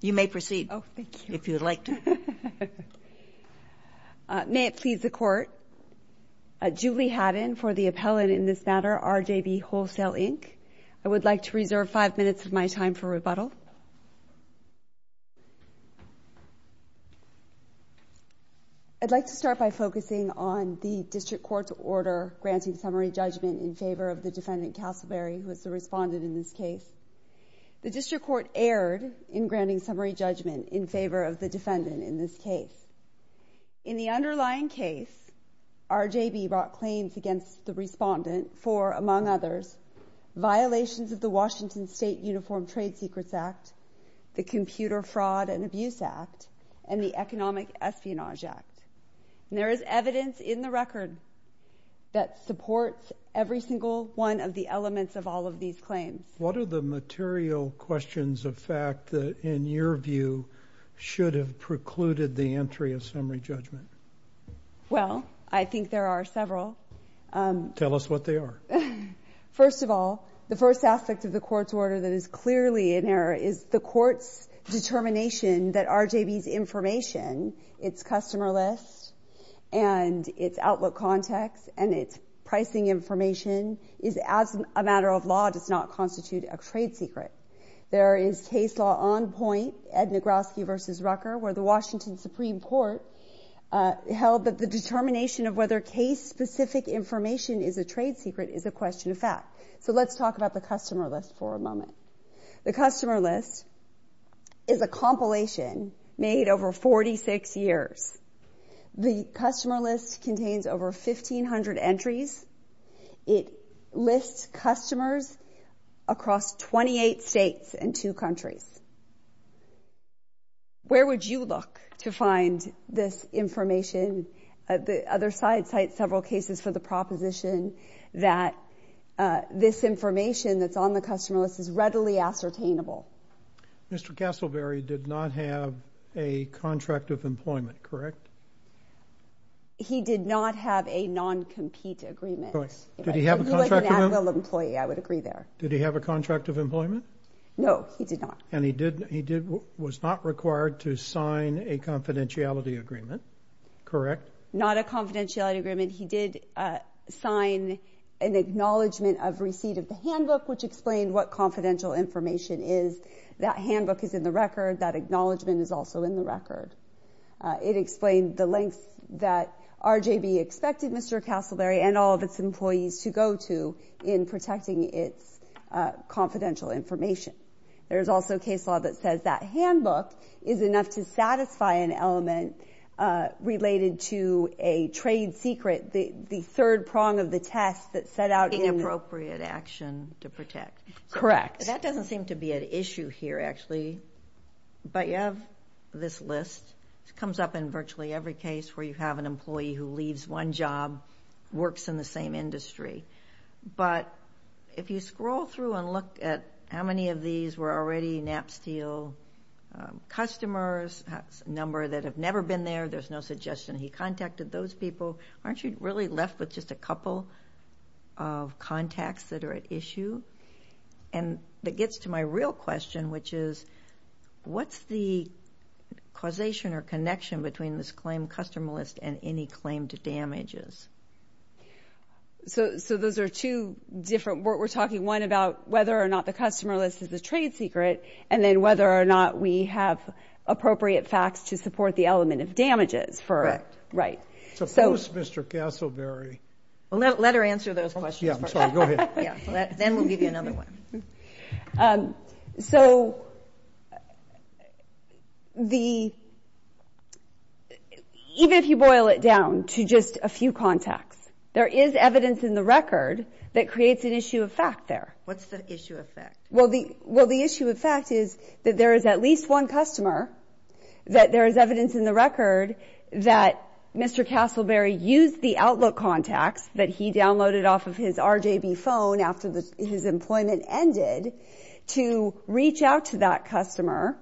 You may proceed, if you would like to. May it please the Court, Julie Hadden for the appellate in this matter, RJB Wholesale, Inc. I would like to reserve five minutes of my time for rebuttal. I'd like to start by focusing on the District Court's order granting summary judgment in favor of the defendant, Castleberry, who is the respondent in this case. The District Court erred in granting summary judgment in favor of the defendant in this case. In the underlying case, RJB brought claims against the respondent for, among others, violations of the Washington State Uniform Trade Secrets Act, the Computer Fraud and Abuse Act, and the Economic Espionage Act. There is evidence in the record that supports every single one of the elements of all of these claims. What are the material questions of fact that, in your view, should have precluded the entry of summary judgment? Well, I think there are several. Tell us what they are. First of all, the first aspect of the Court's order that is clearly in error is the Court's determination that RJB's information, its customer list, and its outlook context, and its pricing information, is, as a matter of law, does not constitute a trade secret. There is case law on point, Ed Nagrowski v. Rucker, where the Washington Supreme Court held that the determination of whether case-specific information is a trade secret is a question of fact. The customer list is a compilation made over 46 years. The customer list contains over 1,500 entries. It lists customers across 28 states and two countries. Where would you look to find this information? The other side cites several cases for the proposition that this information that's on the customer list is readily ascertainable. Mr. Castleberry did not have a contract of employment, correct? He did not have a non-compete agreement. Correct. Did he have a contract of employment? He was an Atwill employee. I would agree there. Did he have a contract of employment? No, he did not. And he was not required to sign a confidentiality agreement, correct? Not a confidentiality agreement. He did sign an acknowledgment of receipt of the handbook, which explained what confidential information is. That handbook is in the record. That acknowledgment is also in the record. It explained the lengths that RJB expected Mr. Castleberry and all of its employees to go to in protecting its confidential information. There is also case law that says that handbook is enough to satisfy an element related to a trade secret, the third prong of the test that set out in the – Taking appropriate action to protect. Correct. That doesn't seem to be an issue here, actually. But you have this list. It comes up in virtually every case where you have an employee who leaves one job, works in the same industry. But if you scroll through and look at how many of these were already Napsteel customers, a number that have never been there, there's no suggestion he contacted those people, aren't you really left with just a couple of contacts that are at issue? And that gets to my real question, which is, what's the causation or connection between this claimed customer list and any claimed damages? So those are two different – we're talking, one, about whether or not the customer list is the trade secret, and then whether or not we have appropriate facts to support the element of damages. Correct. Right. Suppose Mr. Castleberry – Let her answer those questions first. Yeah, I'm sorry. Go ahead. Then we'll give you another one. So the – even if you boil it down to just a few contacts, there is evidence in the record that creates an issue of fact there. What's the issue of fact? Well, the issue of fact is that there is at least one customer, that there is evidence in the record that Mr. Castleberry used the Outlook contacts that he downloaded off of his RJB phone after his employment ended to reach out to that customer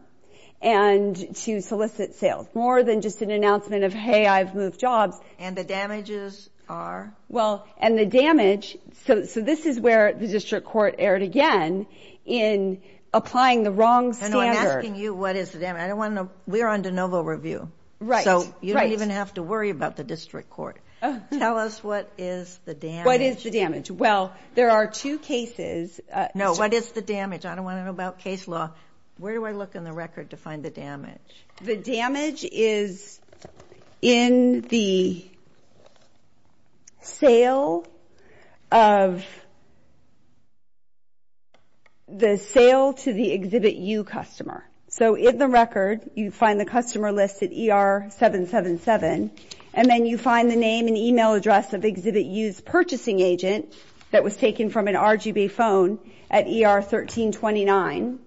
and to solicit sales, more than just an announcement of, hey, I've moved jobs. And the damages are? Well, and the damage – so this is where the district court erred again in applying the wrong standard. I know. I'm asking you what is the damage. I don't want to know. We're on de novo review. Right. So you don't even have to worry about the district court. Tell us what is the damage. What is the damage? Well, there are two cases. No, what is the damage? I don't want to know about case law. Where do I look in the record to find the damage? The damage is in the sale of the sale to the Exhibit U customer. So in the record, you find the customer list at ER-777, and then you find the name and email address of Exhibit U's purchasing agent that was taken from an RJB phone at ER-1329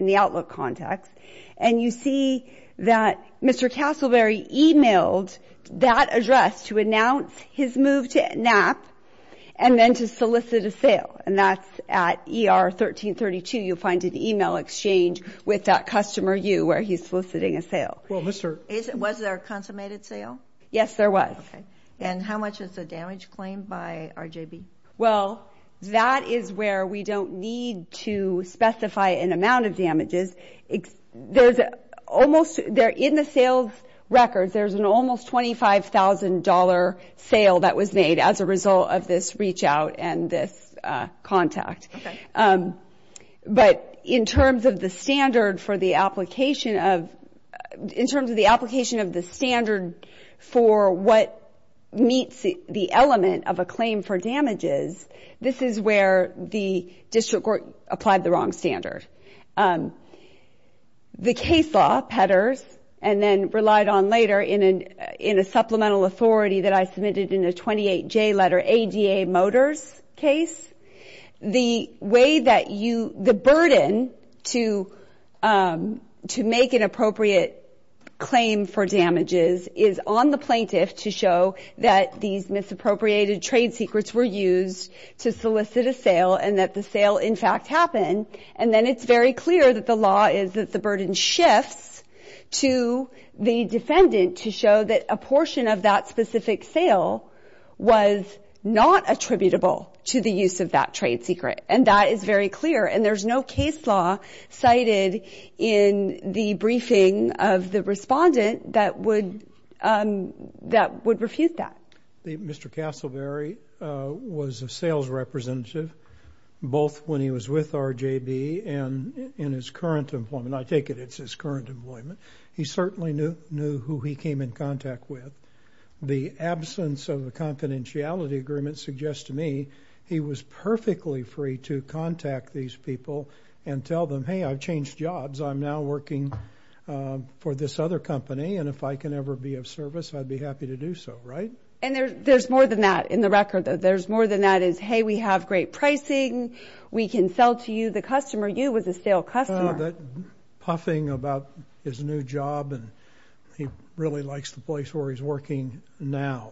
in the Outlook contacts. And you see that Mr. Castleberry emailed that address to announce his move to NAP and then to solicit a sale. And that's at ER-1332. You'll find an email exchange with that customer U where he's soliciting a sale. Was there a consummated sale? Yes, there was. Okay. And how much is the damage claimed by RJB? Well, that is where we don't need to specify an amount of damages. In the sales records, there's an almost $25,000 sale that was made as a result of this reach-out and this contact. Okay. But in terms of the standard for the application of the standard for what meets the element of a claim for damages, this is where the district court applied the wrong standard. The case law, Petters, and then relied on later in a supplemental authority that I submitted in a 28J letter, ADA Motors case, the burden to make an appropriate claim for damages is on the plaintiff to show that these misappropriated trade secrets were used to solicit a sale and that the sale, in fact, happened. And then it's very clear that the law is that the burden shifts to the defendant to show that a portion of that specific sale was not attributable to the use of that trade secret, and that is very clear. And there's no case law cited in the briefing of the respondent that would refuse that. Mr. Castleberry was a sales representative both when he was with RJB and in his current employment. I take it it's his current employment. He certainly knew who he came in contact with. The absence of a confidentiality agreement suggests to me he was perfectly free to contact these people and tell them, hey, I've changed jobs. I'm now working for this other company, and if I can ever be of service, I'd be happy to do so, right? And there's more than that in the record. There's more than that is, hey, we have great pricing. We can sell to you, the customer. You was a sale customer. He had that puffing about his new job, and he really likes the place where he's working now.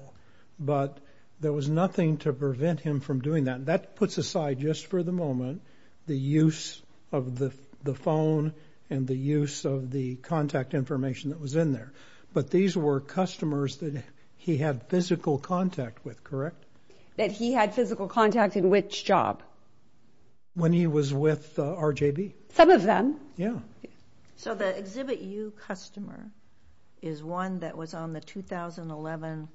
But there was nothing to prevent him from doing that, and that puts aside just for the moment the use of the phone and the use of the contact information that was in there. But these were customers that he had physical contact with, correct? That he had physical contact in which job? When he was with RJB. Some of them. Yeah. So the Exhibit U customer is one that was on the 2011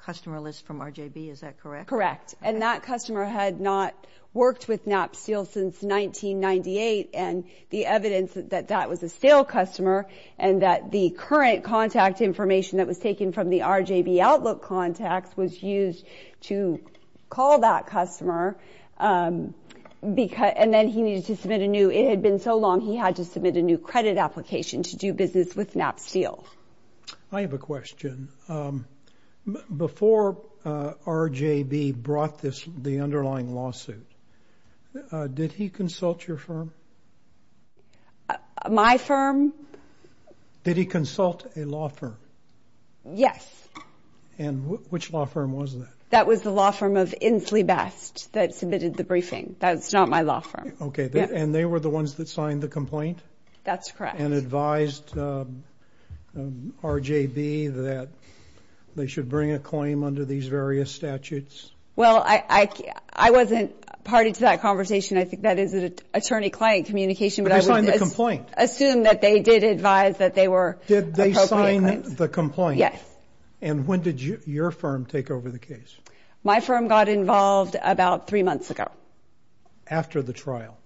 customer list from RJB. Is that correct? Correct, and that customer had not worked with Knapp Steel since 1998, and the evidence that that was a sale customer and that the current contact information that was taken from the RJB Outlook contacts was used to call that customer, and then he needed to submit a new. It had been so long he had to submit a new credit application to do business with Knapp Steel. I have a question. Before RJB brought the underlying lawsuit, did he consult your firm? My firm? Did he consult a law firm? Yes. And which law firm was that? That was the law firm of Inslee Best that submitted the briefing. That's not my law firm. Okay, and they were the ones that signed the complaint? That's correct. And advised RJB that they should bring a claim under these various statutes? Well, I wasn't party to that conversation. I think that is an attorney-client communication. But they signed the complaint. Assume that they did advise that they were appropriate claims. Did they sign the complaint? Yes. And when did your firm take over the case? My firm got involved about three months ago. After the trial?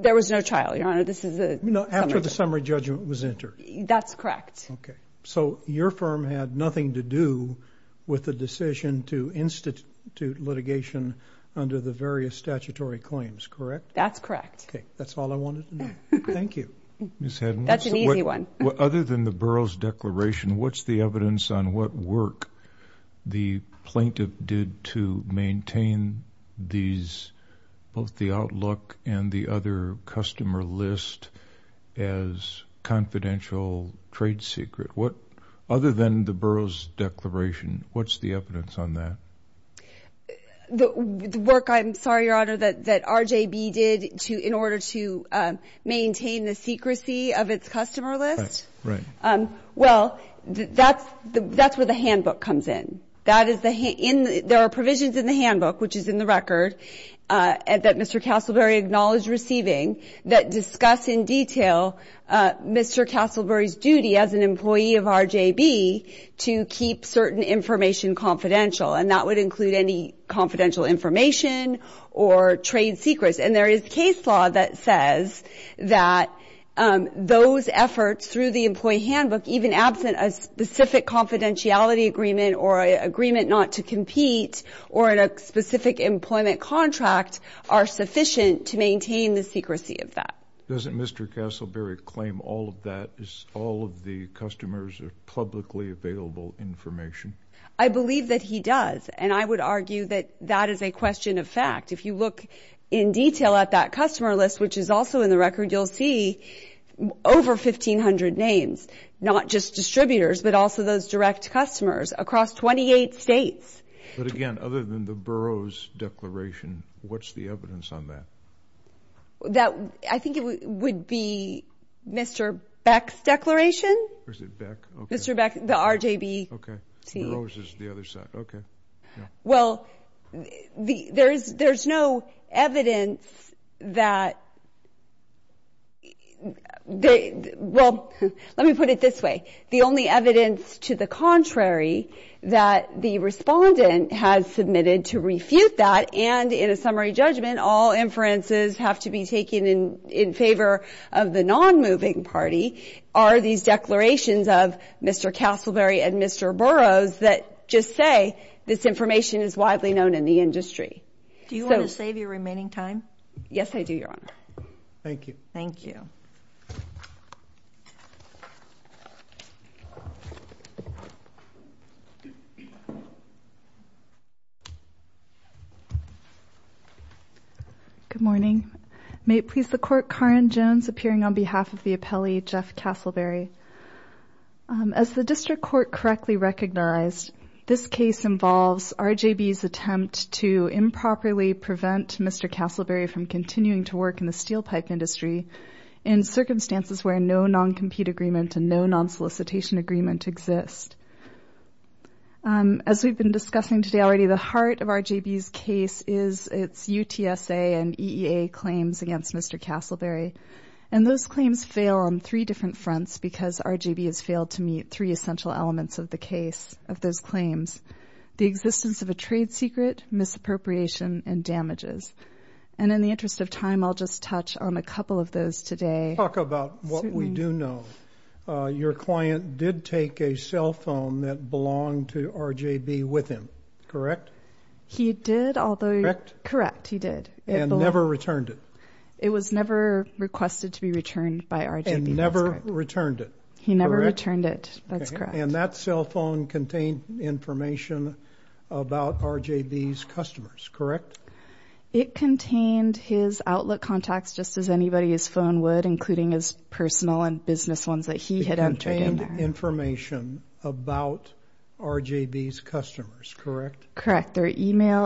There was no trial, Your Honor. After the summary judgment was entered? That's correct. Okay. So your firm had nothing to do with the decision to institute litigation under the various statutory claims, correct? That's correct. Okay. That's all I wanted to know. Thank you. That's an easy one. Other than the borough's declaration, what's the evidence on what work the plaintiff did to maintain both the outlook and the other customer list as confidential trade secret? Other than the borough's declaration, what's the evidence on that? that RJB did in order to maintain the secrecy of its customer list? Right. Well, that's where the handbook comes in. There are provisions in the handbook, which is in the record, that Mr. Castleberry acknowledged receiving, that discuss in detail Mr. Castleberry's duty as an employee of RJB to keep certain information confidential. And that would include any confidential information or trade secrets. And there is case law that says that those efforts, through the employee handbook, even absent a specific confidentiality agreement or agreement not to compete or in a specific employment contract, are sufficient to maintain the secrecy of that. Doesn't Mr. Castleberry claim all of that, all of the customers' publicly available information? I believe that he does. And I would argue that that is a question of fact. If you look in detail at that customer list, which is also in the record, you'll see over 1,500 names, not just distributors, but also those direct customers across 28 states. But, again, other than the borough's declaration, what's the evidence on that? I think it would be Mr. Beck's declaration. Or is it Beck? Mr. Beck, the RJB. Okay. Borough's is the other side. Okay. Well, there's no evidence that they – well, let me put it this way. The only evidence to the contrary that the respondent has submitted to refute that, and in a summary judgment, all inferences have to be taken in favor of the non-moving party, are these declarations of Mr. Castleberry and Mr. Borough's that just say this information is widely known in the industry. Do you want to save your remaining time? Yes, I do, Your Honor. Thank you. Thank you. Good morning. May it please the Court, Karen Jones appearing on behalf of the appellee, Jeff Castleberry. As the district court correctly recognized, this case involves RJB's attempt to improperly prevent Mr. Castleberry from continuing to work in the steel pipe industry in circumstances where no non-compete agreement and no non-solicitation agreement exist. As we've been discussing today already, the heart of RJB's case is its UTSA and EEA claims against Mr. Castleberry, and those claims fail on three different fronts because RJB has failed to meet three essential elements of those claims, the existence of a trade secret, misappropriation, and damages. And in the interest of time, I'll just touch on a couple of those today. Talk about what we do know. Your client did take a cell phone that belonged to RJB with him, correct? He did, although, correct, he did. And never returned it? It was never requested to be returned by RJB. And never returned it? He never returned it. That's correct. And that cell phone contained information about RJB's customers, correct? It contained his outlet contacts just as anybody's phone would, including his personal and business ones that he had entered in there. It contained information about RJB's customers, correct? Correct.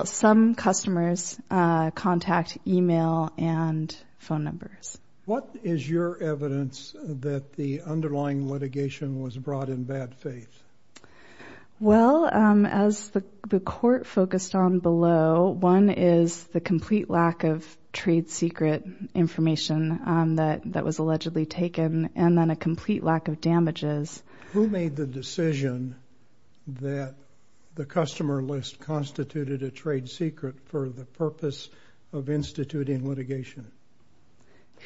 Some customers contact email and phone numbers. What is your evidence that the underlying litigation was brought in bad faith? Well, as the court focused on below, one is the complete lack of trade secret information that was allegedly taken and then a complete lack of damages. Who made the decision that the customer list constituted a trade secret for the purpose of instituting litigation?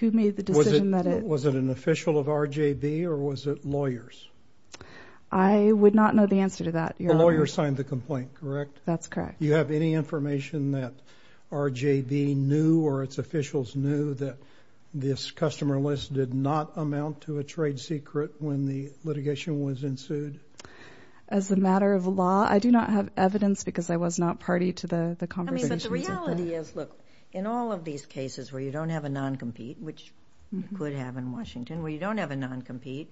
Who made the decision that it was? Was it an official of RJB or was it lawyers? I would not know the answer to that. The lawyer signed the complaint, correct? That's correct. Do you have any information that RJB knew or its officials knew that this customer list did not amount to a trade secret when the litigation was ensued? As a matter of law, I do not have evidence because I was not party to the conversations. But the reality is, look, in all of these cases where you don't have a non-compete, which you could have in Washington where you don't have a non-compete,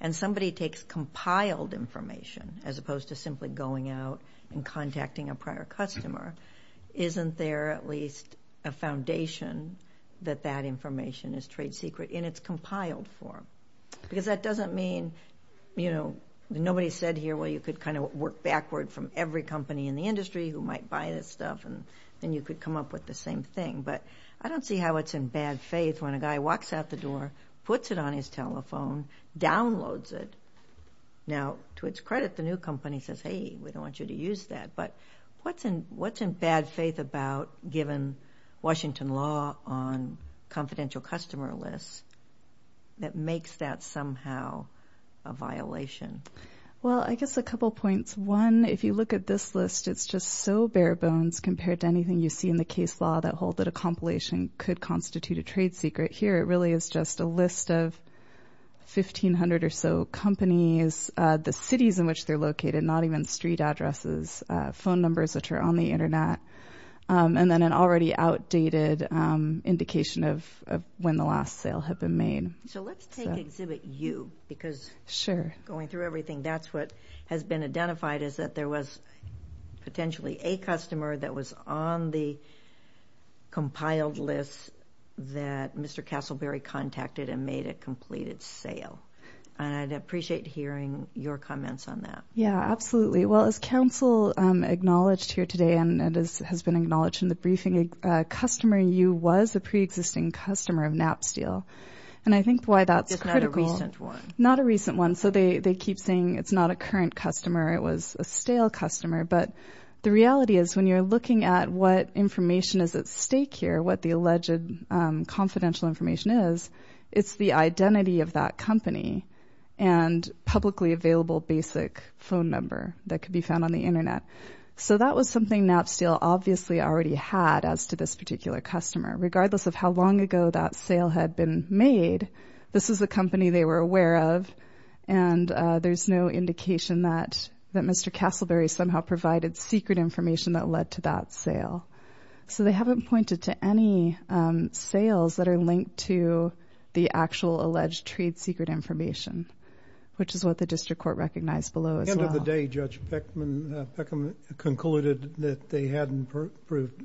and somebody takes compiled information as opposed to simply going out and contacting a prior customer, isn't there at least a foundation that that information is trade secret in its compiled form? Because that doesn't mean, you know, nobody said here, well, you could kind of work backward from every company in the industry who might buy this stuff and then you could come up with the same thing. But I don't see how it's in bad faith when a guy walks out the door, puts it on his telephone, downloads it. Now, to its credit, the new company says, hey, we don't want you to use that. But what's in bad faith about, given Washington law on confidential customer lists, that makes that somehow a violation? Well, I guess a couple points. One, if you look at this list, it's just so bare bones compared to anything you see in the case law that hold that a compilation could constitute a trade secret. Here, it really is just a list of 1,500 or so companies, the cities in which they're located, not even street addresses, phone numbers which are on the Internet, and then an already outdated indication of when the last sale had been made. So let's take Exhibit U because going through everything, that's what has been identified is that there was potentially a customer that was on the compiled list that Mr. Castleberry contacted and made a completed sale. And I'd appreciate hearing your comments on that. Yeah, absolutely. Well, as Council acknowledged here today, and it has been acknowledged in the briefing, a customer, U, was a preexisting customer of Napsteel. And I think why that's critical. It's not a recent one. Not a recent one. So they keep saying it's not a current customer, it was a stale customer. But the reality is when you're looking at what information is at stake here, what the alleged confidential information is, it's the identity of that company and publicly available basic phone number that could be found on the Internet. So that was something Napsteel obviously already had as to this particular customer. Regardless of how long ago that sale had been made, this was the company they were aware of, and there's no indication that Mr. Castleberry somehow provided secret information that led to that sale. So they haven't pointed to any sales that are linked to the actual alleged trade secret information, which is what the district court recognized below as well. At the end of the day, Judge Peckham concluded that they hadn't proved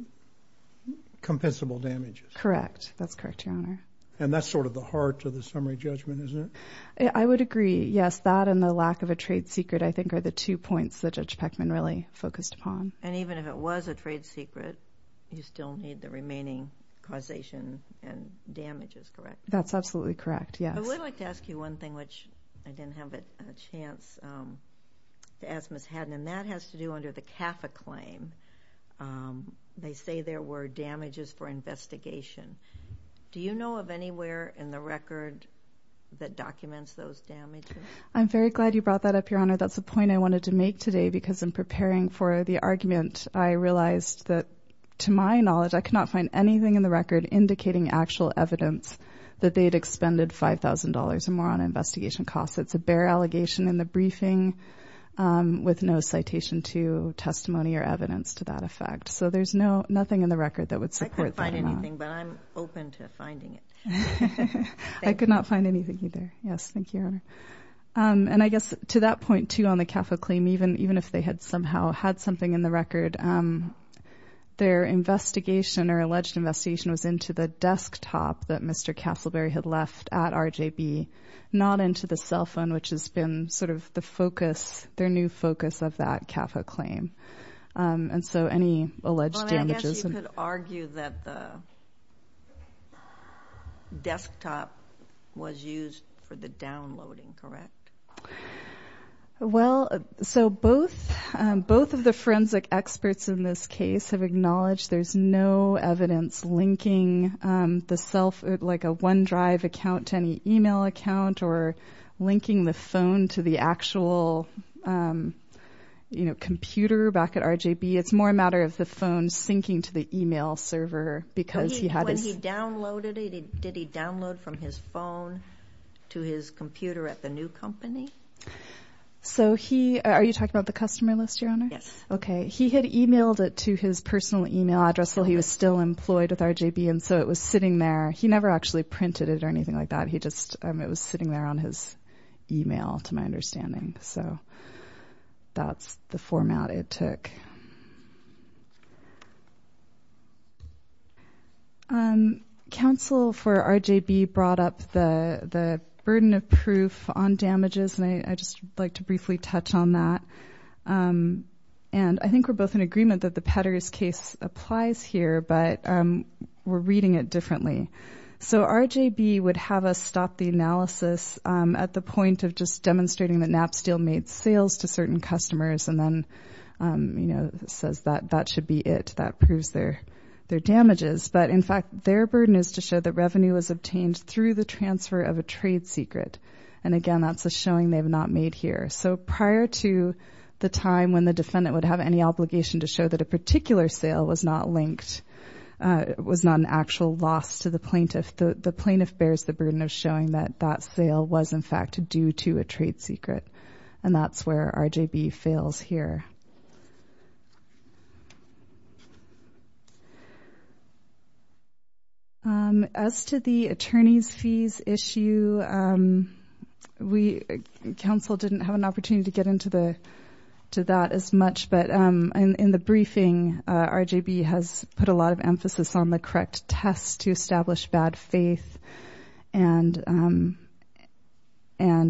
compensable damages. Correct. That's correct, Your Honor. And that's sort of the heart of the summary judgment, isn't it? I would agree, yes. That and the lack of a trade secret, I think, are the two points that Judge Peckham really focused upon. And even if it was a trade secret, you still need the remaining causation and damages, correct? That's absolutely correct, yes. I would like to ask you one thing, which I didn't have a chance to ask Ms. Haddon, and that has to do under the CAFA claim. They say there were damages for investigation. Do you know of anywhere in the record that documents those damages? I'm very glad you brought that up, Your Honor. That's the point I wanted to make today because in preparing for the argument, I realized that, to my knowledge, I could not find anything in the record indicating actual evidence that they had expended $5,000 or more on investigation costs. It's a bare allegation in the briefing with no citation to testimony or evidence to that effect. So there's nothing in the record that would support that or not. I couldn't find anything, but I'm open to finding it. I could not find anything either. Yes, thank you, Your Honor. And I guess to that point, too, on the CAFA claim, even if they had somehow had something in the record, their investigation or alleged investigation was into the desktop that Mr. Castleberry had left at RJB, not into the cell phone, which has been sort of the focus, their new focus of that CAFA claim. And so any alleged damages? You could argue that the desktop was used for the downloading, correct? Well, so both of the forensic experts in this case have acknowledged there's no evidence linking the cell phone, like a OneDrive account to any email account or linking the phone to the actual computer back at RJB. It's more a matter of the phone syncing to the email server because he had his... When he downloaded it, did he download from his phone to his computer at the new company? So are you talking about the customer list, Your Honor? Yes. Okay. He had emailed it to his personal email address while he was still employed with RJB, and so it was sitting there. He never actually printed it or anything like that. It was sitting there on his email, to my understanding. So that's the format it took. Counsel for RJB brought up the burden of proof on damages, and I'd just like to briefly touch on that. And I think we're both in agreement that the Petters case applies here, but we're reading it differently. So RJB would have us stop the analysis at the point of just demonstrating that Napsteel made sales to certain customers and then says that that should be it, that proves their damages. But, in fact, their burden is to show that revenue was obtained through the transfer of a trade secret. And, again, that's a showing they've not made here. So prior to the time when the defendant would have any obligation to show that a particular sale was not linked, was not an actual loss to the plaintiff, the plaintiff bears the burden of showing that that sale was, in fact, due to a trade secret. And that's where RJB fails here. As to the attorneys' fees issue, counsel didn't have an opportunity to get into that as much, but in the briefing, RJB has put a lot of emphasis on the correct test to establish bad faith. And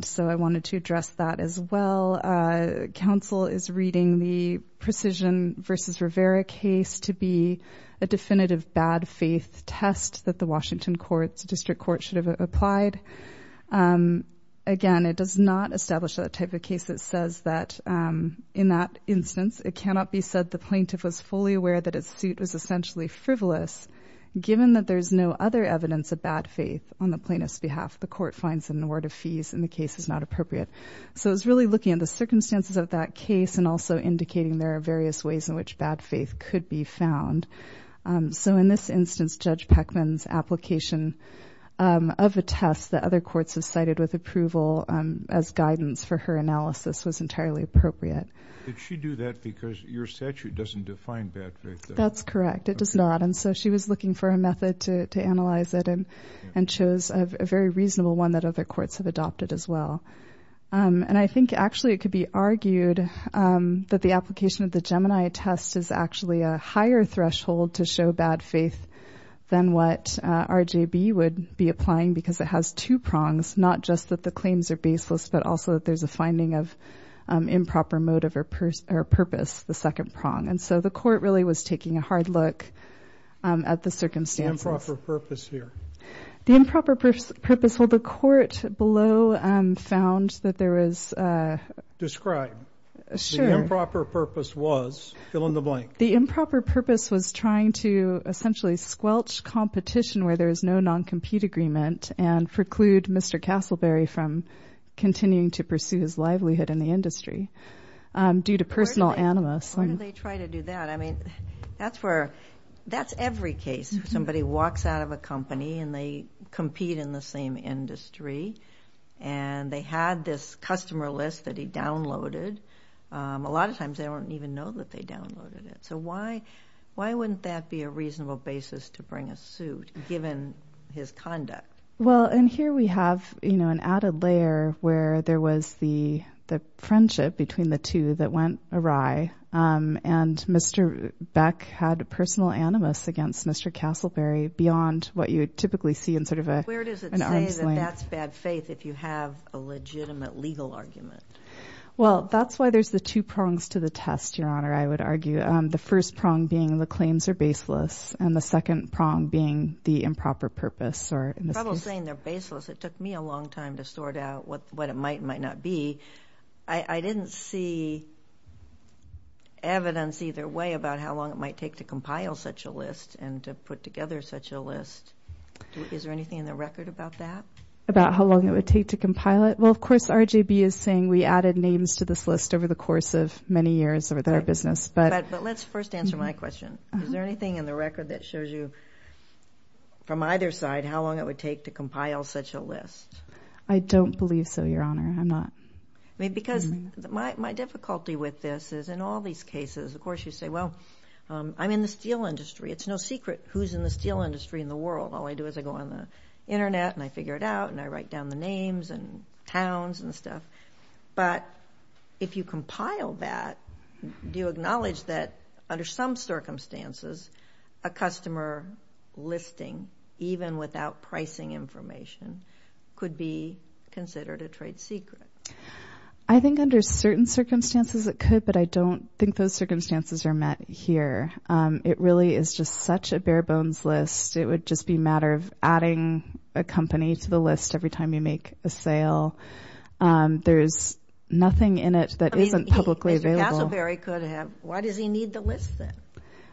so I wanted to address that as well. Counsel is reading the Precision v. Rivera case to be a definitive bad faith test that the Washington District Court should have applied. Again, it does not establish that type of case. It says that, in that instance, it cannot be said the plaintiff was fully aware that his suit was essentially frivolous given that there's no other evidence of bad faith on the plaintiff's behalf. The court finds that an award of fees in the case is not appropriate. So it's really looking at the circumstances of that case and also indicating there are various ways in which bad faith could be found. So in this instance, Judge Peckman's application of a test that other courts have cited with approval as guidance for her analysis was entirely appropriate. Did she do that because your statute doesn't define bad faith? That's correct. It does not. And so she was looking for a method to analyze it and chose a very reasonable one that other courts have adopted as well. And I think, actually, it could be argued that the application of the Gemini test is actually a higher threshold to show bad faith than what RJB would be applying because it has two prongs, not just that the claims are baseless but also that there's a finding of improper motive or purpose, the second prong. And so the court really was taking a hard look at the circumstances. Improper purpose here. The improper purpose. Well, the court below found that there was... Describe what the improper purpose was. Fill in the blank. The improper purpose was trying to essentially squelch competition where there is no non-compete agreement and preclude Mr. Castleberry from continuing to pursue his livelihood in the industry due to personal animus. Why did they try to do that? I mean, that's where... That's every case where somebody walks out of a company and they compete in the same industry and they had this customer list that he downloaded. A lot of times they don't even know that they downloaded it. So why wouldn't that be a reasonable basis to bring a suit given his conduct? Well, and here we have an added layer where there was the friendship between the two that went awry and Mr. Beck had personal animus against Mr. Castleberry beyond what you would typically see in sort of an arm's length. Where does it say that that's bad faith if you have a legitimate legal argument? Well, that's why there's the two prongs to the test, Your Honor, I would argue. The first prong being the claims are baseless and the second prong being the improper purpose. Trouble saying they're baseless. It took me a long time to sort out what it might and might not be. I didn't see evidence either way about how long it might take to compile such a list and to put together such a list. Is there anything in the record about that? About how long it would take to compile it? Well, of course, RJB is saying we added names to this list over the course of many years of their business. But let's first answer my question. Is there anything in the record that shows you from either side how long it would take to compile such a list? I don't believe so, Your Honor. I'm not... Because my difficulty with this is in all these cases, of course, you say, well, I'm in the steel industry. It's no secret who's in the steel industry in the world. All I do is I go on the Internet and I figure it out and I write down the names and towns and stuff. But if you compile that, do you acknowledge that under some circumstances a customer listing, even without pricing information, could be considered a trade secret? I think under certain circumstances it could, but I don't think those circumstances are met here. It really is just such a bare-bones list. It would just be a matter of adding a company to the list every time you make a sale. There's nothing in it that isn't publicly available. Mr. Casselberry could have. Why does he need the list, then?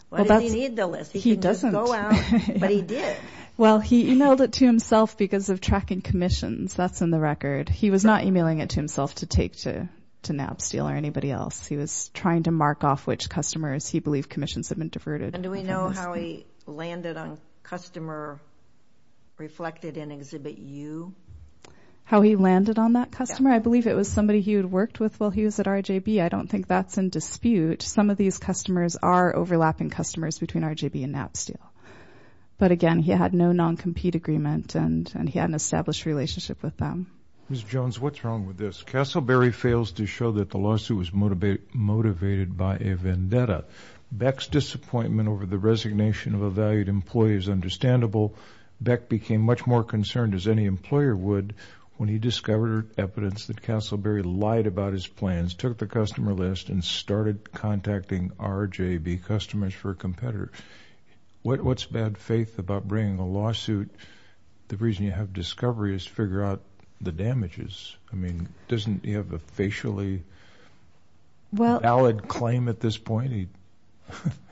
Why does he need the list? He can just go out, but he did. Well, he emailed it to himself because of tracking commissions. That's in the record. He was not emailing it to himself to take to Knapsteel or anybody else. He was trying to mark off which customers he believed commissions had been diverted. And do we know how he landed on customer reflected in Exhibit U? How he landed on that customer? I believe it was somebody he had worked with while he was at RJB. I don't think that's in dispute. Some of these customers are overlapping customers between RJB and Knapsteel. But again, he had no non-compete agreement, and he had an established relationship with them. Ms. Jones, what's wrong with this? Casselberry fails to show that the lawsuit was motivated by a vendetta. Beck's disappointment over the resignation of a valued employee is understandable. Beck became much more concerned, as any employer would, when he discovered evidence that Casselberry lied about his plans, took the customer list, and started contacting RJB customers for a competitor. What's bad faith about bringing a lawsuit? The reason you have discovery is to figure out the damages. I mean, doesn't he have a facially valid claim at this point?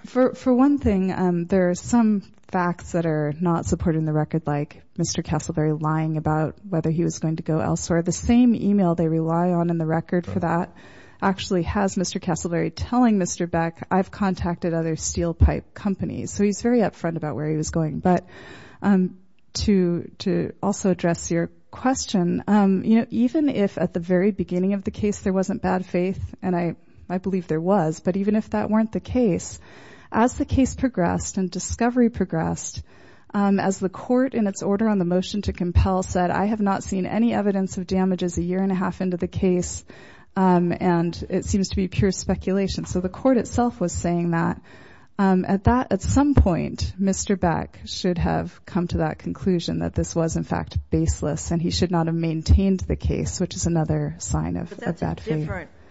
For one thing, there are some facts that are not supported in the record, like Mr. Casselberry lying about whether he was going to go elsewhere. The same email they rely on in the record for that actually has Mr. Casselberry telling Mr. Beck, I've contacted other steel pipe companies. So he's very upfront about where he was going. But to also address your question, even if at the very beginning of the case there wasn't bad faith, and I believe there was, but even if that weren't the case, as the case progressed and discovery progressed, as the court in its order on the motion to compel said, I have not seen any evidence of damages a year and a half into the case, and it seems to be pure speculation. So the court itself was saying that. At some point, Mr. Beck should have come to that conclusion, that this was, in fact, baseless, and he should not have maintained the case, which is another sign of bad faith.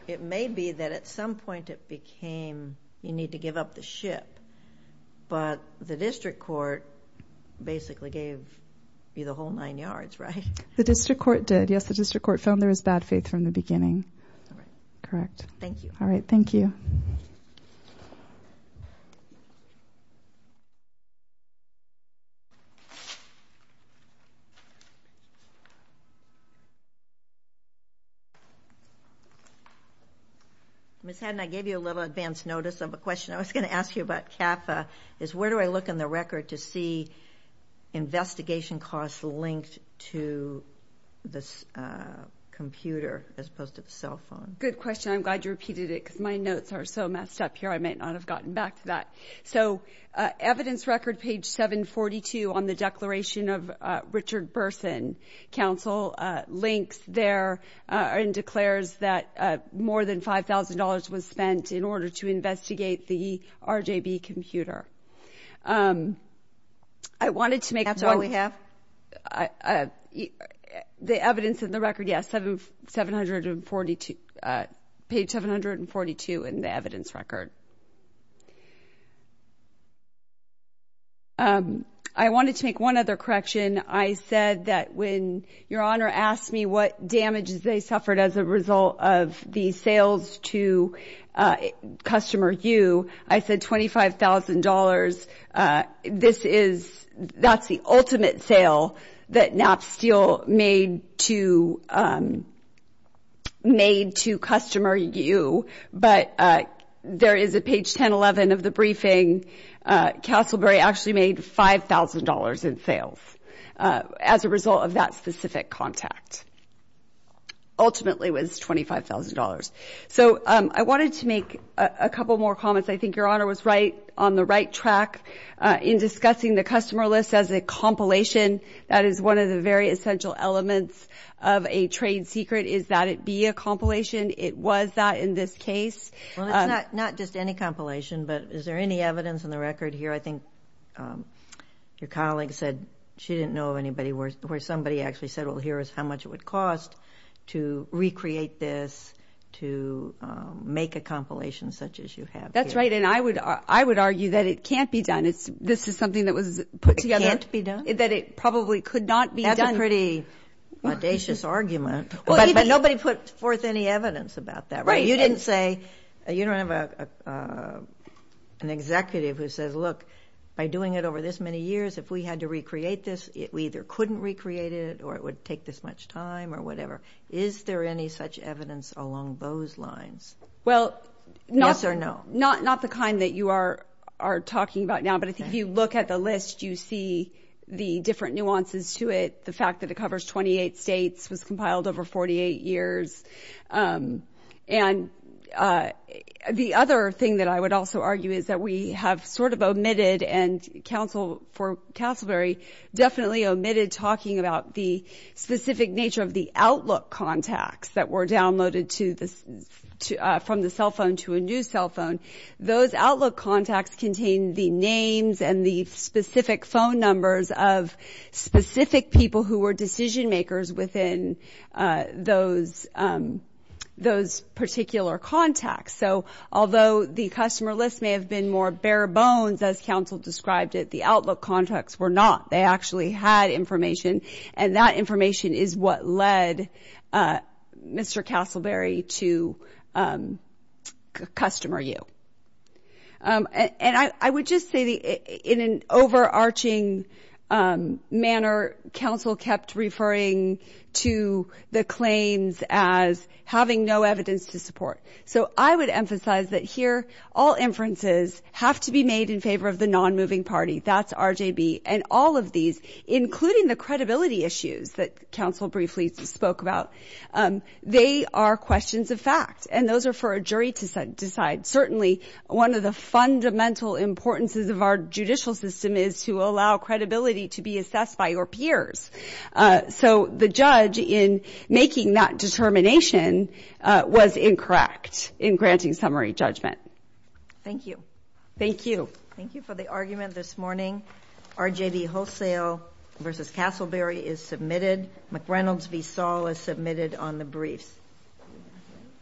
It may be that at some point it became, you need to give up the ship, but the district court basically gave you the whole nine yards, right? The district court did. Yes, the district court found there was bad faith from the beginning. All right. Correct. Thank you. All right, thank you. Ms. Haddon, I gave you a little advance notice of a question I was going to ask you about CAFA, is where do I look in the record to see investigation costs linked to the computer as opposed to the cell phone? Good question. I'm glad you repeated it because my notes are so messed up here I might not have gotten back to that. So evidence record, page 742, on the declaration of Richard Burson, links there and declares that more than $5,000 was spent in order to investigate the RJB computer. That's all we have? The evidence in the record, yes, page 742 in the evidence record. I wanted to make one other correction. I said that when your Honor asked me what damages they suffered as a result of the sales to customer U, I said $25,000. That's the ultimate sale that Knapp Steel made to customer U, but there is a page 1011 of the briefing, Castleberry actually made $5,000 in sales as a result of that specific contact. Ultimately it was $25,000. So I wanted to make a couple more comments. I think your Honor was right on the right track in discussing the customer list as a compilation. That is one of the very essential elements of a trade secret is that it be a compilation. It was that in this case. It's not just any compilation, but is there any evidence in the record here? I think your colleague said she didn't know of anybody where somebody actually said, well, here is how much it would cost to recreate this, to make a compilation such as you have here. That's right, and I would argue that it can't be done. This is something that was put together. It can't be done? That it probably could not be done. That's a pretty audacious argument, but nobody put forth any evidence about that, right? You didn't say, you don't have an executive who says, look, by doing it over this many years, if we had to recreate this, we either couldn't recreate it or it would take this much time or whatever. Is there any such evidence along those lines? Well, not the kind that you are talking about now, but I think if you look at the list, you see the different nuances to it, the fact that it covers 28 states, was compiled over 48 years, and the other thing that I would also argue is that we have sort of omitted and for Castleberry definitely omitted talking about the specific nature of the Outlook contacts that were downloaded from the cell phone to a new cell phone. Those Outlook contacts contain the names and the specific phone numbers of specific people who were decision makers within those particular contacts. So although the customer list may have been more bare bones, as counsel described it, the Outlook contacts were not. They actually had information, and that information is what led Mr. Castleberry to customer you. And I would just say that in an overarching manner, counsel kept referring to the claims as having no evidence to support. So I would emphasize that here, all inferences have to be made in favor of the non-moving party. That's RJB, and all of these, including the credibility issues that counsel briefly spoke about, they are questions of fact, and those are for a jury to decide. Certainly one of the fundamental importances of our judicial system is to allow credibility to be assessed by your peers. So the judge, in making that determination, was incorrect in granting summary judgment. Thank you. Thank you. Thank you for the argument this morning. RJB Wholesale v. Castleberry is submitted. McReynolds v. Saul is submitted on the briefs.